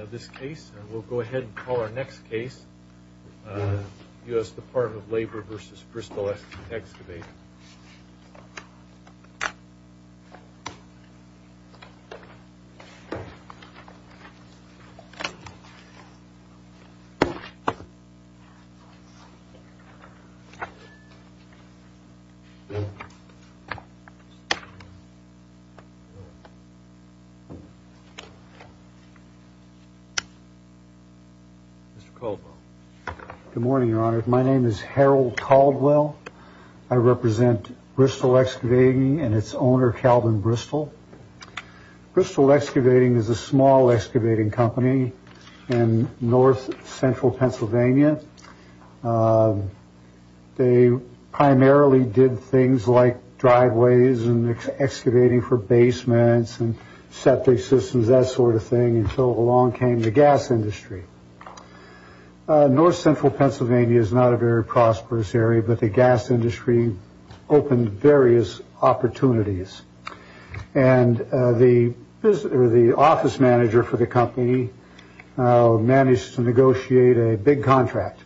In this case, we'll go ahead and call our next case, U.S. Department of Labor v. Bristol Excavate. Mr. Caldwell. Good morning, Your Honor. My name is Harold Caldwell. I represent Bristol Excavating and its owner, Calvin Bristol. Bristol Excavating is a small excavating company in north central Pennsylvania. They primarily did things like driveways and excavating for basements and septic systems, that sort of thing, until along came the gas industry. North central Pennsylvania is not a very prosperous area, but the gas industry opened various opportunities. And the office manager for the company managed to negotiate a big contract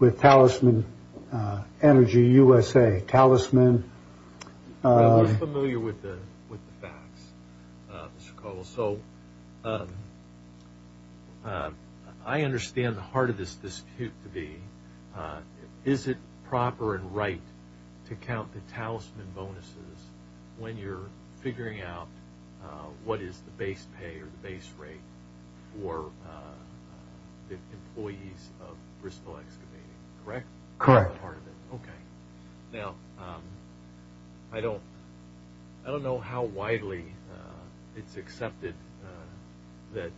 with Talisman Energy USA. You're familiar with the facts, Mr. Caldwell. So I understand the heart of this dispute to be, is it proper and right to count the talisman bonuses when you're figuring out what is the base pay or the base rate for the employees of Bristol Excavating, correct? Correct. Okay. Now, I don't know how widely it's accepted that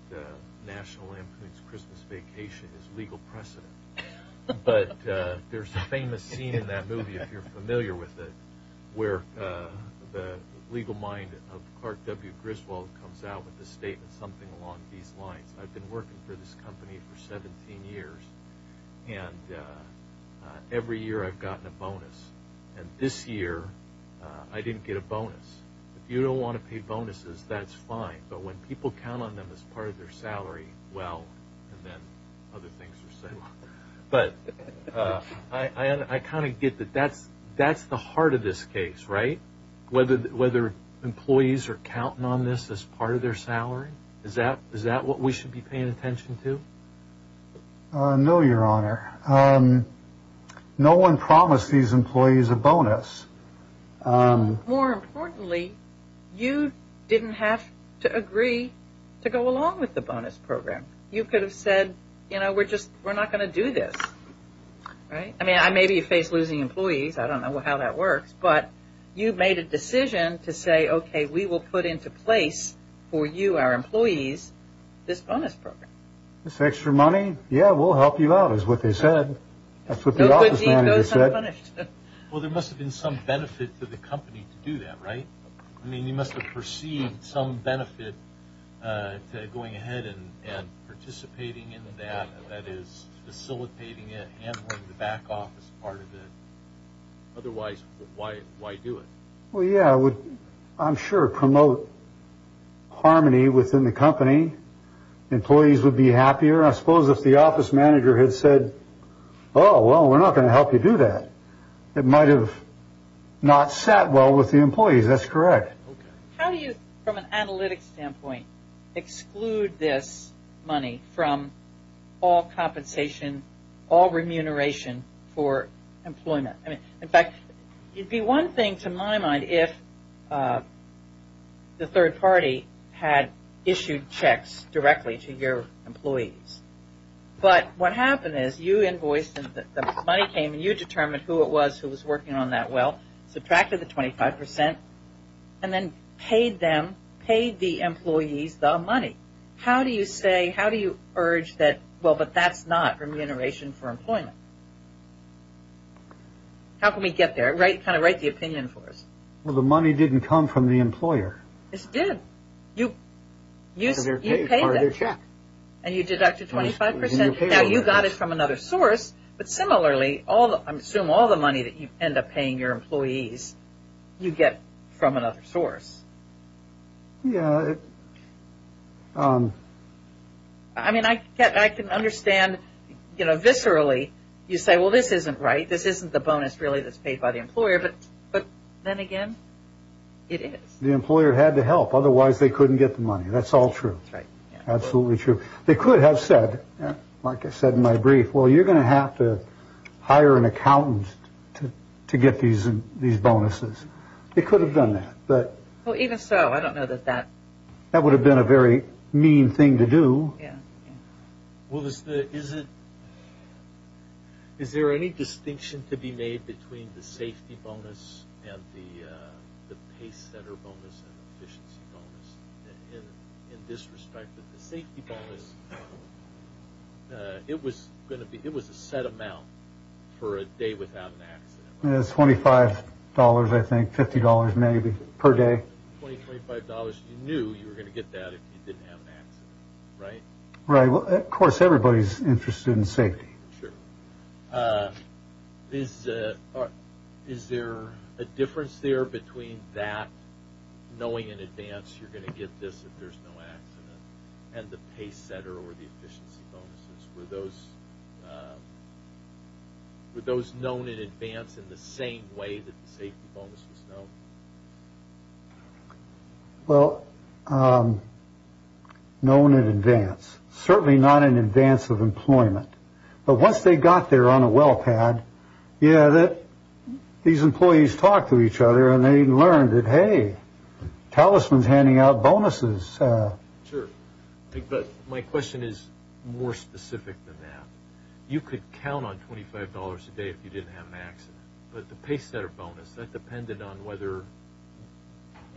National Lampoon's Christmas Vacation is legal precedent, but there's a famous scene in that movie, if you're familiar with it, where the legal mind of Clark W. Griswold comes out with a statement something along these lines. I've been working for this company for 17 years, and every year I've gotten a bonus. And this year, I didn't get a bonus. If you don't want to pay bonuses, that's fine, but when people count on them as part of their salary, well, then other things are settled. But I kind of get that that's the heart of this case, right? Whether employees are counting on this as part of their salary, is that what we should be paying attention to? No, Your Honor. No one promised these employees a bonus. More importantly, you didn't have to agree to go along with the bonus program. You could have said, you know, we're just not going to do this, right? I mean, maybe you face losing employees. I don't know how that works. But you made a decision to say, okay, we will put into place for you, our employees, this bonus program. This extra money? Yeah, we'll help you out, is what they said. That's what the office manager said. Well, there must have been some benefit for the company to do that, right? I mean, you must have perceived some benefit to going ahead and participating in that, that is facilitating it, handling the back office part of it. Otherwise, why do it? Well, yeah, I'm sure promote harmony within the company. Employees would be happier, I suppose, if the office manager had said, oh, well, we're not going to help you do that. It might have not sat well with the employees. That's correct. How do you, from an analytics standpoint, exclude this money from all compensation, all remuneration for employment? In fact, it would be one thing to my mind if the third party had issued checks directly to your employees. But what happened is you invoiced and the money came and you determined who it was who was working on that well, subtracted the 25 percent, and then paid them, paid the employees the money. How do you say, how do you urge that, well, but that's not remuneration for employment? How can we get there? Kind of write the opinion for us. Well, the money didn't come from the employer. It did. You paid them. And you deducted 25 percent. Now, you got it from another source. But similarly, I assume all the money that you end up paying your employees, you get from another source. Yeah. I mean, I can understand, you know, viscerally, you say, well, this isn't right. This isn't the bonus really that's paid by the employer. But then again, it is. The employer had to help. Otherwise, they couldn't get the money. That's all true. That's right. Absolutely true. They could have said, like I said in my brief, well, you're going to have to hire an accountant to get these bonuses. They could have done that. But even so, I don't know that that that would have been a very mean thing to do. Well, is there any distinction to be made between the safety bonus and the pay center bonus and efficiency bonus? In this respect, the safety bonus, it was a set amount for a day without an accident. $25, I think, $50 maybe per day. $20, $25. You knew you were going to get that if you didn't have an accident, right? Right. Well, of course, everybody's interested in safety. Sure. Is there a difference there between that knowing in advance you're going to get this if there's no accident and the pay center or the efficiency bonuses? Were those were those known in advance in the same way that the safety bonus was known? Well, known in advance, certainly not in advance of employment. But once they got there on a well pad. Yeah. These employees talk to each other and they learn that, hey, talismans handing out bonuses. Sure. But my question is more specific than that. You could count on twenty five dollars a day if you didn't have an accident. But the pay center bonus that depended on whether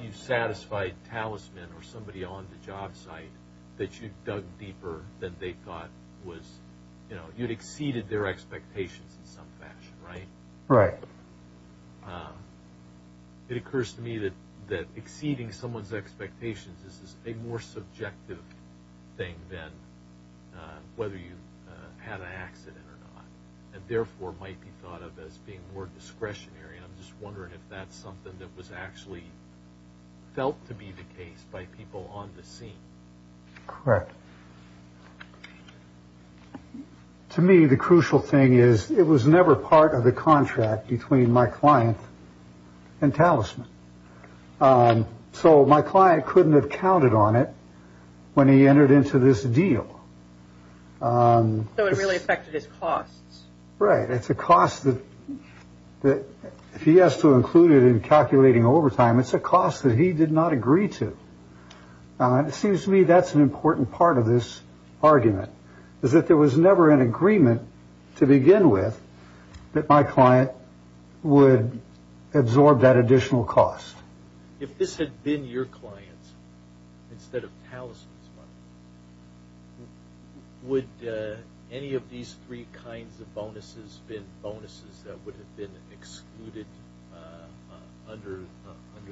you satisfied talisman or somebody on the job site that you dug deeper than they thought was, you know, you'd exceeded their expectations in some fashion. Right. Right. It occurs to me that that exceeding someone's expectations is a more subjective thing than whether you had an accident or not and therefore might be thought of as being more discretionary. I'm just wondering if that's something that was actually felt to be the case by people on the scene. Correct. To me, the crucial thing is it was never part of the contract between my client and talisman. So my client couldn't have counted on it when he entered into this deal. So it really affected his costs, right? It's a cost that that if he has to include it in calculating overtime, it's a cost that he did not agree to. It seems to me that's an important part of this argument is that there was never an agreement to begin with that my client would absorb that additional cost. If this had been your client instead of talisman's money, would any of these three kinds of bonuses have been bonuses that would have been excluded under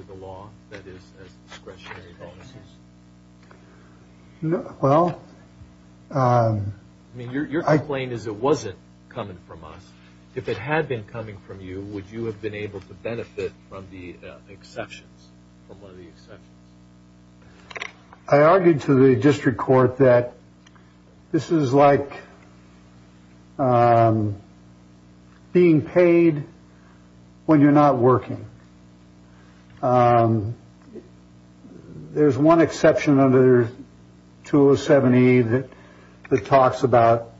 the law, that is discretionary bonuses? Well, I mean, your complaint is it wasn't coming from us. If it had been coming from you, would you have been able to benefit from the exceptions? I argued to the district court that this is like being paid when you're not working. There's one exception under two or 70 that talks about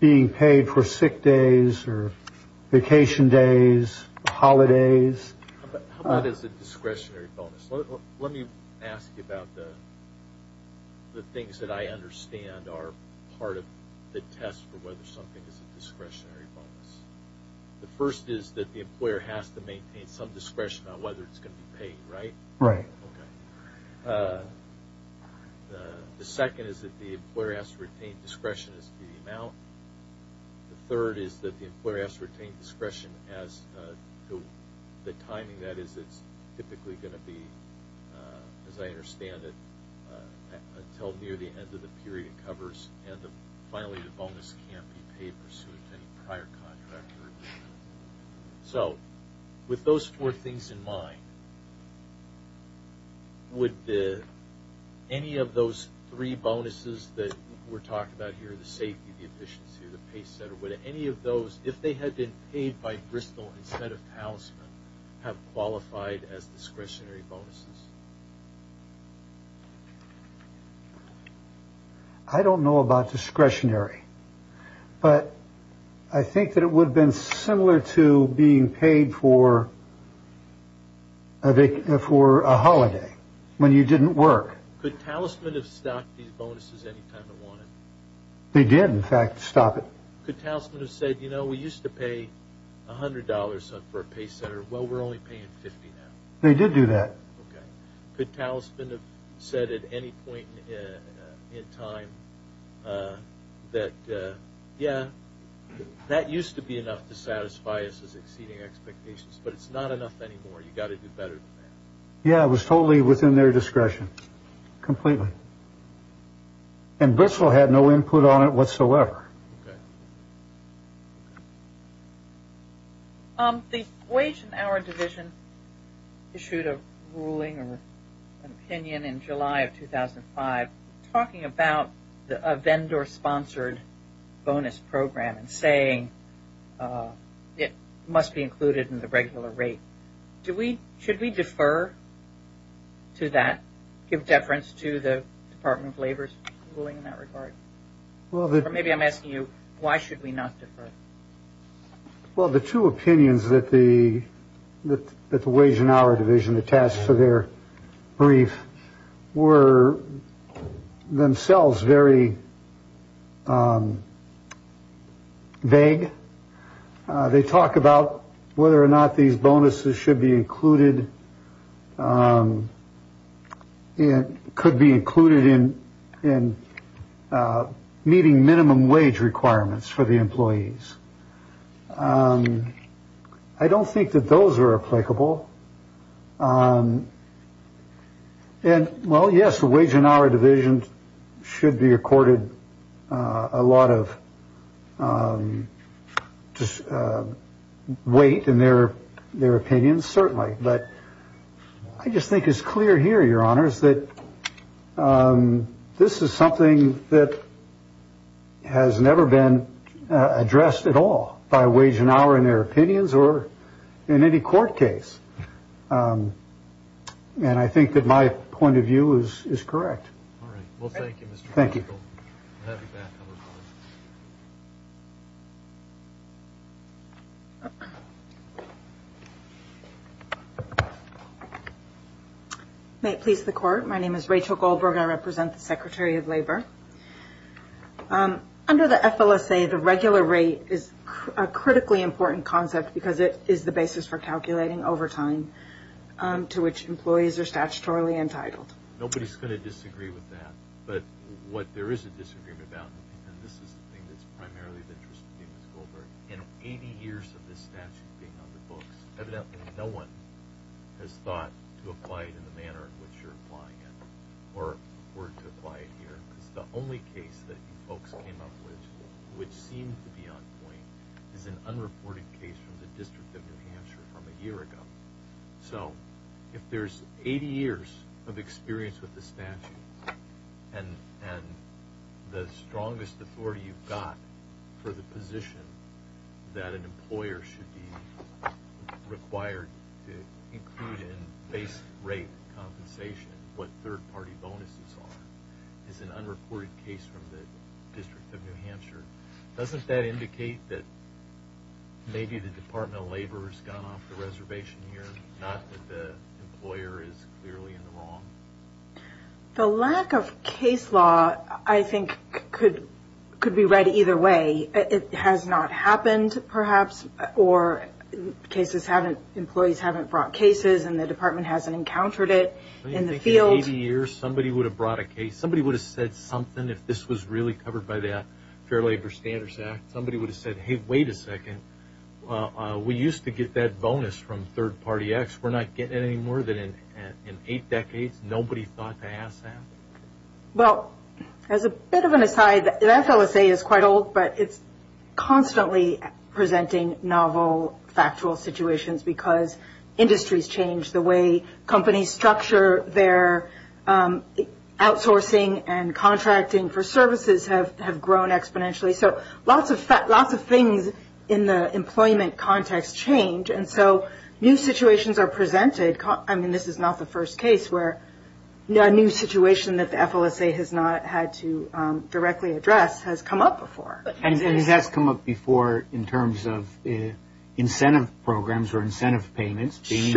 being paid for sick days or vacation days, holidays. It's a discretionary bonus. Let me ask you about the things that I understand are part of the test for whether something is a discretionary bonus. The first is that the employer has to maintain some discretion on whether it's going to be paid, right? Right. The second is that the employer has to retain discretion as to the amount. The third is that the employer has to retain discretion as to the timing. That is, it's typically going to be, as I understand it, until near the end of the period it covers. And finally, the bonus can't be paid pursuant to any prior contract. So, with those four things in mind, would any of those three bonuses that we're talking about here, the safety, the efficiency, the pay set, would any of those, if they had been paid by Bristol instead of Talisman, have qualified as discretionary bonuses? I don't know about discretionary, but I think that it would have been similar to being paid for a holiday when you didn't work. Could Talisman have stocked these bonuses any time it wanted? They did, in fact, stop it. Could Talisman have said, you know, we used to pay $100 for a pay setter. Well, we're only paying $50 now. They did do that. Could Talisman have said at any point in time that, yeah, that used to be enough to satisfy us as exceeding expectations, but it's not enough anymore. You've got to do better than that. Yeah, it was totally within their discretion, completely. And Bristol had no input on it whatsoever. Okay. The Wage and Hour Division issued a ruling or an opinion in July of 2005 talking about a vendor-sponsored bonus program and saying it must be included in the regular rate. Should we defer to that, give deference to the Department of Labor's ruling in that regard? Or maybe I'm asking you, why should we not defer? Well, the two opinions that the Wage and Hour Division attached to their brief were themselves very vague. They talk about whether or not these bonuses should be included. It could be included in in meeting minimum wage requirements for the employees. I don't think that those are applicable. And, well, yes, the Wage and Hour Division should be accorded a lot of weight in their their opinions, certainly. But I just think it's clear here, Your Honors, that this is something that has never been addressed at all by Wage and Hour in their opinions or in any court case. And I think that my point of view is correct. All right. Well, thank you, Mr. Goldberg. Thank you. May it please the Court, my name is Rachel Goldberg. I represent the Secretary of Labor. Under the FLSA, the regular rate is a critically important concept because it is the basis for calculating overtime to which employees are statutorily entitled. Nobody's going to disagree with that. But what there is a disagreement about, and this is the thing that's primarily of interest to me, Mr. Goldberg, in 80 years of this statute being on the books, evidently no one has thought to apply it in the manner in which you're applying it or were to apply it here. Because the only case that you folks came up with, which seemed to be on point, is an unreported case from the District of New Hampshire from a year ago. So if there's 80 years of experience with the statute and the strongest authority you've got for the position that an employer should be required to include in base rate compensation, what third-party bonuses are, is an unreported case from the District of New Hampshire, doesn't that indicate that maybe the Department of Labor has gone off the reservation here, not that the employer is clearly in the wrong? The lack of case law, I think, could be read either way. It has not happened, perhaps, or employees haven't brought cases and the department hasn't encountered it in the field. In 80 years, somebody would have brought a case. Somebody would have said something if this was really covered by the Fair Labor Standards Act. Somebody would have said, hey, wait a second, we used to get that bonus from third-party acts. We're not getting it any more than in eight decades? Nobody thought to ask that? Well, as a bit of an aside, that LSA is quite old, but it's constantly presenting novel, factual situations because industries change, the way companies structure their outsourcing and contracting for services have grown exponentially. So lots of things in the employment context change, and so new situations are presented. I mean, this is not the first case where a new situation that the FLSA has not had to directly address has come up before. And it has come up before in terms of incentive programs or incentive payments being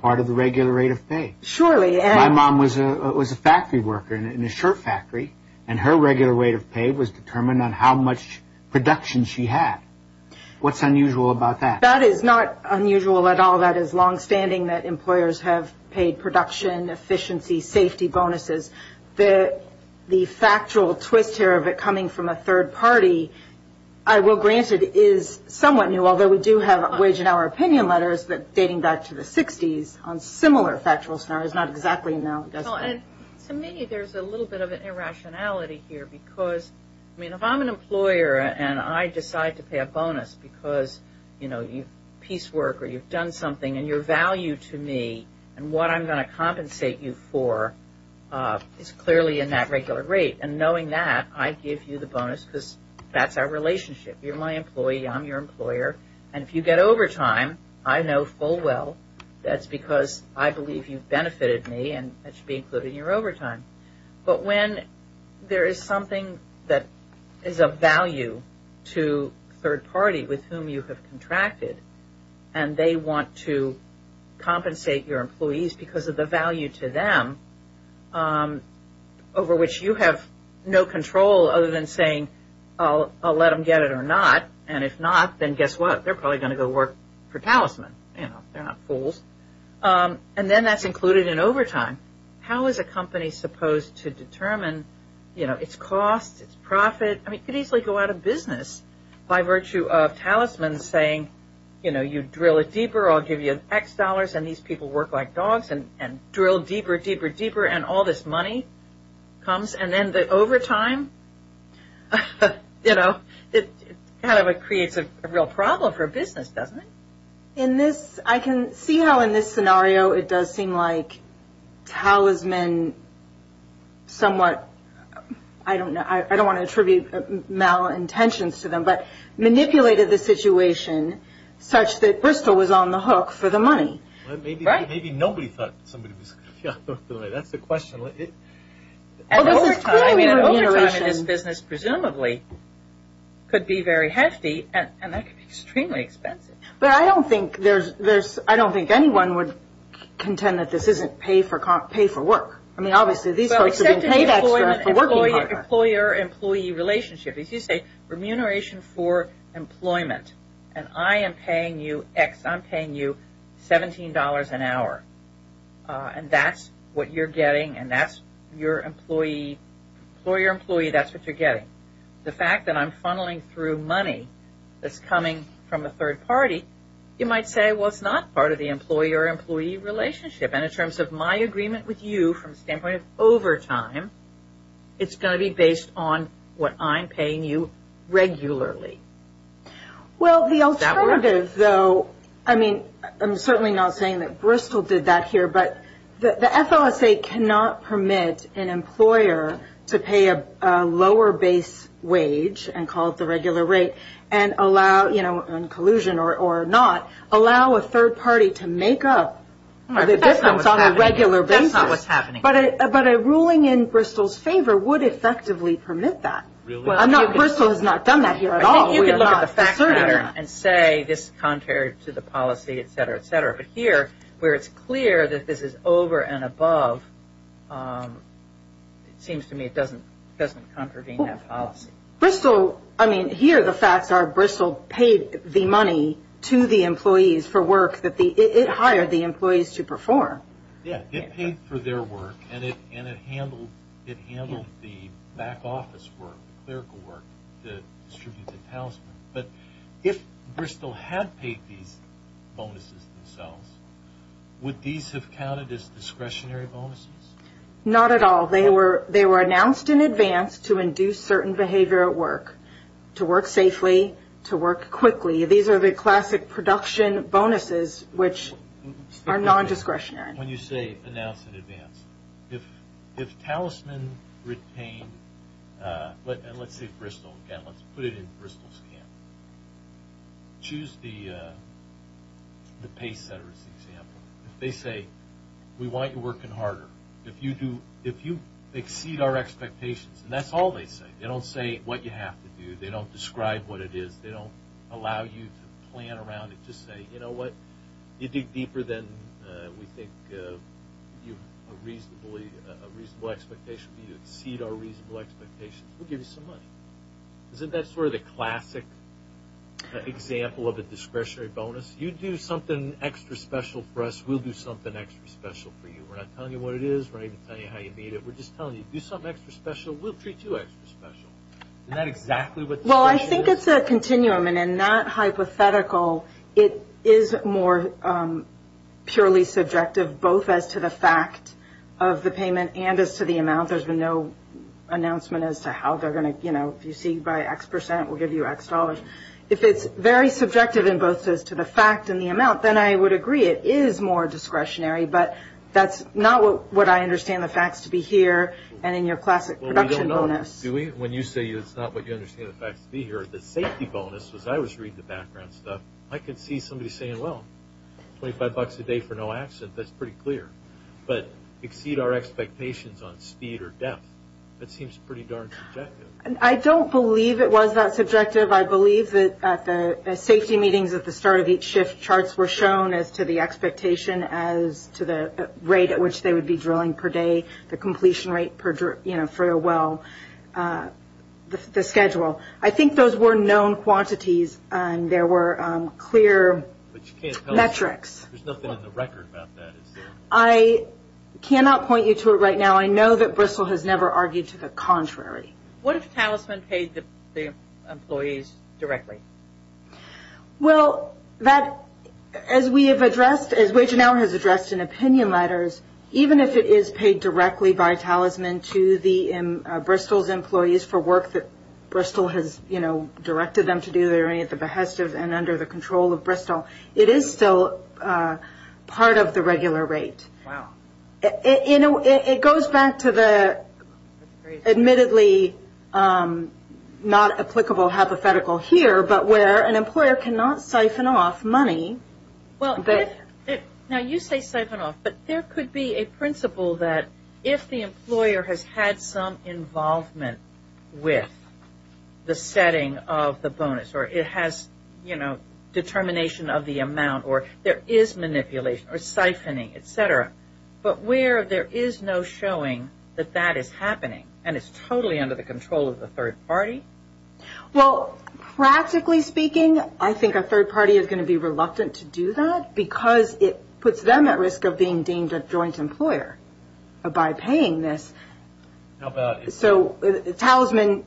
part of the regular rate of pay. Surely. My mom was a factory worker in a shirt factory, and her regular rate of pay was determined on how much production she had. What's unusual about that? That is not unusual at all. That is longstanding that employers have paid production, efficiency, safety bonuses. The factual twist here of it coming from a third party, I will grant it, is somewhat new, although we do have wage and hour opinion letters dating back to the 60s on similar factual scenarios. Not exactly now. To me, there's a little bit of an irrationality here because, I mean, if I'm an employer and I decide to pay a bonus because, you know, done something and your value to me and what I'm going to compensate you for is clearly in that regular rate. And knowing that, I give you the bonus because that's our relationship. You're my employee. I'm your employer. And if you get overtime, I know full well that's because I believe you've benefited me and that should be included in your overtime. But when there is something that is of value to a third party with whom you have contracted and they want to compensate your employees because of the value to them over which you have no control other than saying, I'll let them get it or not, and if not, then guess what? They're probably going to go work for Talisman. You know, they're not fools. And then that's included in overtime. How is a company supposed to determine, you know, its costs, its profit? I mean, it could easily go out of business by virtue of Talisman saying, you know, you drill it deeper, I'll give you X dollars and these people work like dogs and drill deeper, deeper, deeper, and all this money comes. And then the overtime, you know, it kind of creates a real problem for a business, doesn't it? In this, I can see how in this scenario it does seem like Talisman somewhat, I don't know, I don't want to attribute malintentions to them, but manipulated the situation such that Bristol was on the hook for the money. Maybe nobody thought somebody was going to be on the hook for the money. That's the question. And overtime in this business presumably could be very hefty and that could be extremely expensive. But I don't think there's, I don't think anyone would contend that this isn't pay for work. I mean, obviously these folks are being paid extra for working part-time. Well, except in the employer-employee relationship. If you say remuneration for employment and I am paying you X, I'm paying you $17 an hour, and that's what you're getting and that's your employee, employer-employee, that's what you're getting. The fact that I'm funneling through money that's coming from a third party, you might say, well, it's not part of the employer-employee relationship. And in terms of my agreement with you from the standpoint of overtime, it's going to be based on what I'm paying you regularly. Well, the alternative, though, I mean, I'm certainly not saying that Bristol did that here, but the FOSA cannot permit an employer to pay a lower base wage and call it the regular rate and allow, you know, in collusion or not, allow a third party to make up the difference on a regular basis. That's not what's happening. But a ruling in Bristol's favor would effectively permit that. Really? Bristol has not done that here at all. I think you can look at the fact pattern and say this is contrary to the policy, et cetera, et cetera. But here, where it's clear that this is over and above, it seems to me it doesn't contravene that policy. Bristol, I mean, here the facts are Bristol paid the money to the employees for work. It hired the employees to perform. Yeah, it paid for their work, and it handled the back office work, the clerical work, the distributed talisman. But if Bristol had paid these bonuses themselves, would these have counted as discretionary bonuses? Not at all. They were announced in advance to induce certain behavior at work, to work safely, to work quickly. These are the classic production bonuses, which are non-discretionary. When you say announced in advance, if talisman retained, and let's say Bristol, again, let's put it in Bristol's hand. Choose the pay center as an example. If they say, we want you working harder, if you exceed our expectations, and that's all they say. They don't say what you have to do. They don't describe what it is. They don't allow you to plan around it. Just say, you know what, you dig deeper than we think a reasonable expectation. If you exceed our reasonable expectations, we'll give you some money. Isn't that sort of the classic example of a discretionary bonus? You do something extra special for us, we'll do something extra special for you. We're not telling you what it is. We're not even telling you how you made it. We're just telling you, do something extra special, we'll treat you extra special. Isn't that exactly what discretionary is? Well, I think it's a continuum, and in that hypothetical, it is more purely subjective, both as to the fact of the payment and as to the amount. There's been no announcement as to how they're going to, you know, if you exceed by X percent, we'll give you X dollars. If it's very subjective in both as to the fact and the amount, then I would agree it is more discretionary, but that's not what I understand the facts to be here and in your classic production bonus. Dewey, when you say it's not what you understand the facts to be here, the safety bonus, as I always read the background stuff, I can see somebody saying, well, 25 bucks a day for no accident, that's pretty clear, but exceed our expectations on speed or depth. That seems pretty darn subjective. I don't believe it was that subjective. I believe that at the safety meetings at the start of each shift, charts were shown as to the expectation as to the rate at which they would be drilling per day, the completion rate, you know, for a well, the schedule. I think those were known quantities, and there were clear metrics. There's nothing in the record about that. I cannot point you to it right now. I know that Bristol has never argued to the contrary. What if Talisman paid the employees directly? Well, that, as we have addressed, as Wage and Hour has addressed in opinion letters, even if it is paid directly by Talisman to the Bristol's employees for work that Bristol has, you know, directed them to do at the behest of and under the control of Bristol, it is still part of the regular rate. You know, it goes back to the admittedly not applicable hypothetical here, but where an employer cannot siphon off money. Now, you say siphon off, but there could be a principle that if the employer has had some involvement with the setting of the bonus or it has, you know, determination of the amount or there is manipulation or siphoning, et cetera, but where there is no showing that that is happening and it's totally under the control of the third party? Well, practically speaking, I think a third party is going to be reluctant to do that because it puts them at risk of being deemed a joint employer by paying this. So Talisman,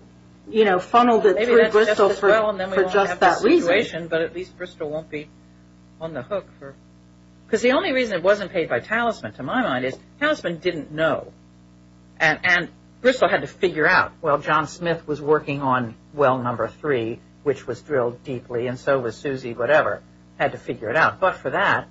you know, funneled it through Bristol for just that reason. But at least Bristol won't be on the hook. Because the only reason it wasn't paid by Talisman, to my mind, is Talisman didn't know. And Bristol had to figure out, well, John Smith was working on well number three, which was drilled deeply, and so was Susie, whatever, had to figure it out. But for that,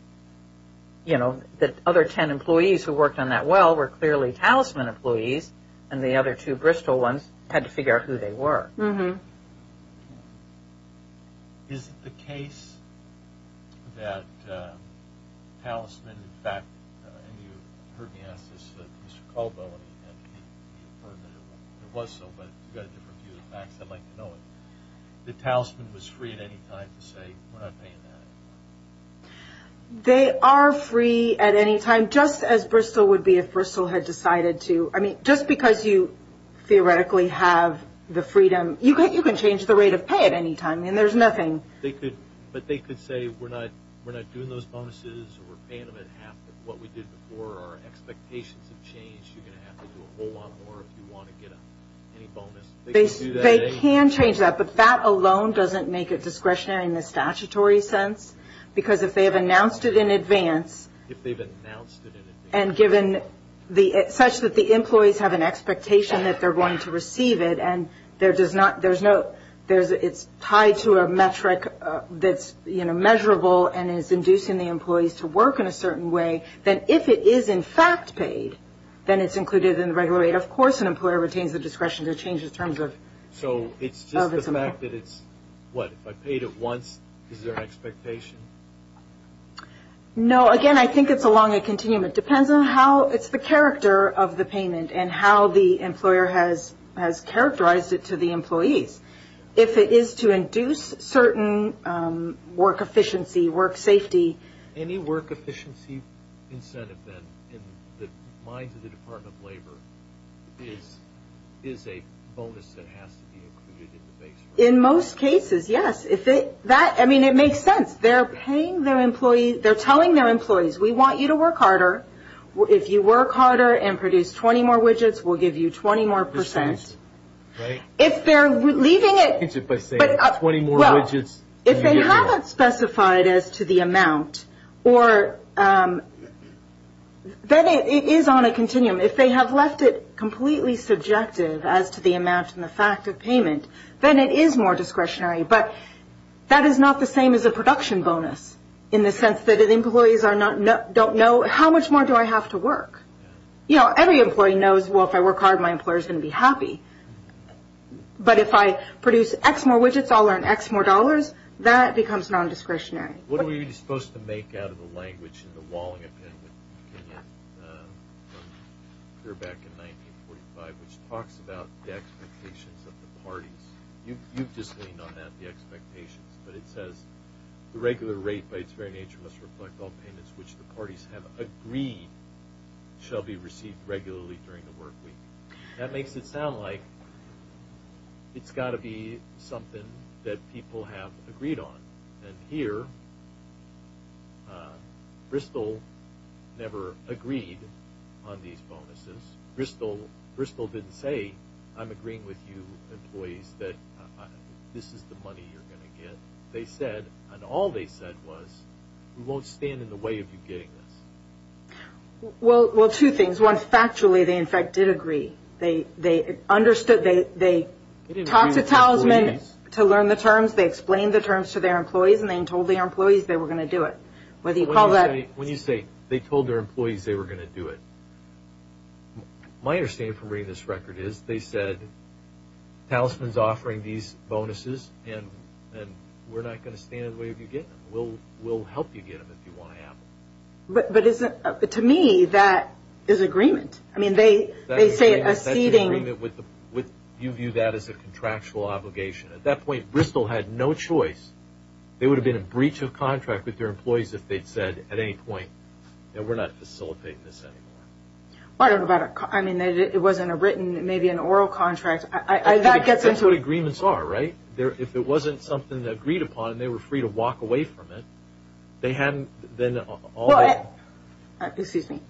you know, the other ten employees who worked on that well were clearly Talisman employees and the other two Bristol ones had to figure out who they were. Mm-hmm. Is it the case that Talisman, in fact, and you heard me ask this to Mr. Caldwell, and it was so, but you've got a different view of the facts, I'd like to know it, that Talisman was free at any time to say, we're not paying that? They are free at any time, just as Bristol would be if Bristol had decided to. I mean, just because you theoretically have the freedom, you can change the rate of pay at any time, and there's nothing. But they could say, we're not doing those bonuses, we're paying them at half of what we did before, our expectations have changed, you're going to have to do a whole lot more if you want to get any bonus. They can change that, but that alone doesn't make it discretionary in the statutory sense. Because if they have announced it in advance. If they've announced it in advance. And given such that the employees have an expectation that they're going to receive it, and it's tied to a metric that's measurable and is inducing the employees to work in a certain way, then if it is, in fact, paid, then it's included in the regular rate. Of course an employer retains the discretion to change the terms of its employer. So it's just the fact that it's, what, if I paid it once, is there an expectation? No, again, I think it's along a continuum. It depends on how it's the character of the payment and how the employer has characterized it to the employees. If it is to induce certain work efficiency, work safety. Any work efficiency incentive, then, in the minds of the Department of Labor, is a bonus that has to be included in the base rate? In most cases, yes. I mean, it makes sense. They're paying their employees. They're telling their employees, we want you to work harder. If you work harder and produce 20 more widgets, we'll give you 20 more percent. If they're leaving it. If they haven't specified as to the amount, then it is on a continuum. If they have left it completely subjective as to the amount and the fact of payment, then it is more discretionary. But that is not the same as a production bonus, in the sense that if employees don't know, how much more do I have to work? You know, every employee knows, well, if I work hard, my employer is going to be happy. But if I produce X more widgets, I'll earn X more dollars. That becomes non-discretionary. What are we supposed to make out of the language in the Walling, back in 1945, which talks about the expectations of the parties. You've just leaned on that, the expectations. But it says, the regular rate by its very nature must reflect all payments which the parties have agreed shall be received regularly during the work week. That makes it sound like it's got to be something that people have agreed on. And here, Bristol never agreed on these bonuses. Bristol didn't say, I'm agreeing with you, employees, that this is the money you're going to get. They said, and all they said was, we won't stand in the way of you getting this. Well, two things. One, factually, they, in fact, did agree. They talked to Talisman to learn the terms. They explained the terms to their employees, and they told their employees they were going to do it. When you say, they told their employees they were going to do it, my understanding from reading this record is, they said, Talisman's offering these bonuses, and we're not going to stand in the way of you getting them. We'll help you get them if you want to have them. But to me, that is agreement. I mean, they say it as ceding. You view that as a contractual obligation. At that point, Bristol had no choice. It would have been a breach of contract with their employees if they'd said at any point, we're not facilitating this anymore. I don't know about a contract. I mean, it wasn't a written, maybe an oral contract. That gets into what agreements are, right? If it wasn't something they agreed upon, they were free to walk away from it. They hadn't then all the way along. Excuse me.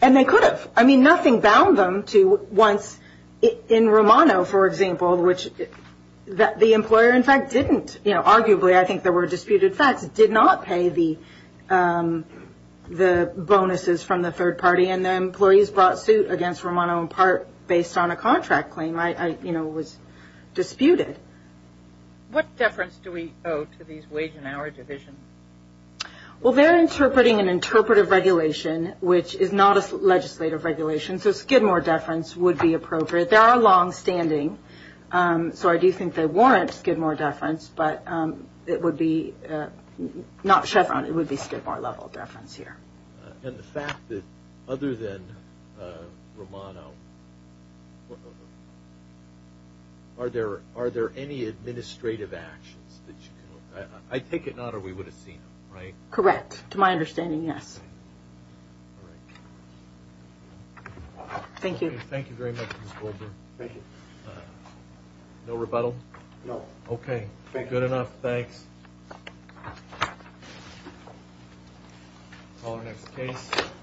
And they could have. I mean, nothing bound them to once in Romano, for example, which the employer, in fact, didn't. Arguably, I think there were disputed facts. It did not pay the bonuses from the third party, and the employees brought suit against Romano in part based on a contract claim. It was disputed. What deference do we owe to these wage and hour divisions? Well, they're interpreting an interpretive regulation, which is not a legislative regulation, so Skidmore deference would be appropriate. They are longstanding, so I do think they warrant Skidmore deference, but it would be not Chevron. It would be Skidmore level deference here. And the fact that other than Romano, are there any administrative actions that you can, I take it not or we would have seen them, right? Correct. To my understanding, yes. All right. Thank you. Thank you very much, Ms. Goldberg. Thank you. No rebuttal? No. Okay. Good enough. Thanks. Call our next case.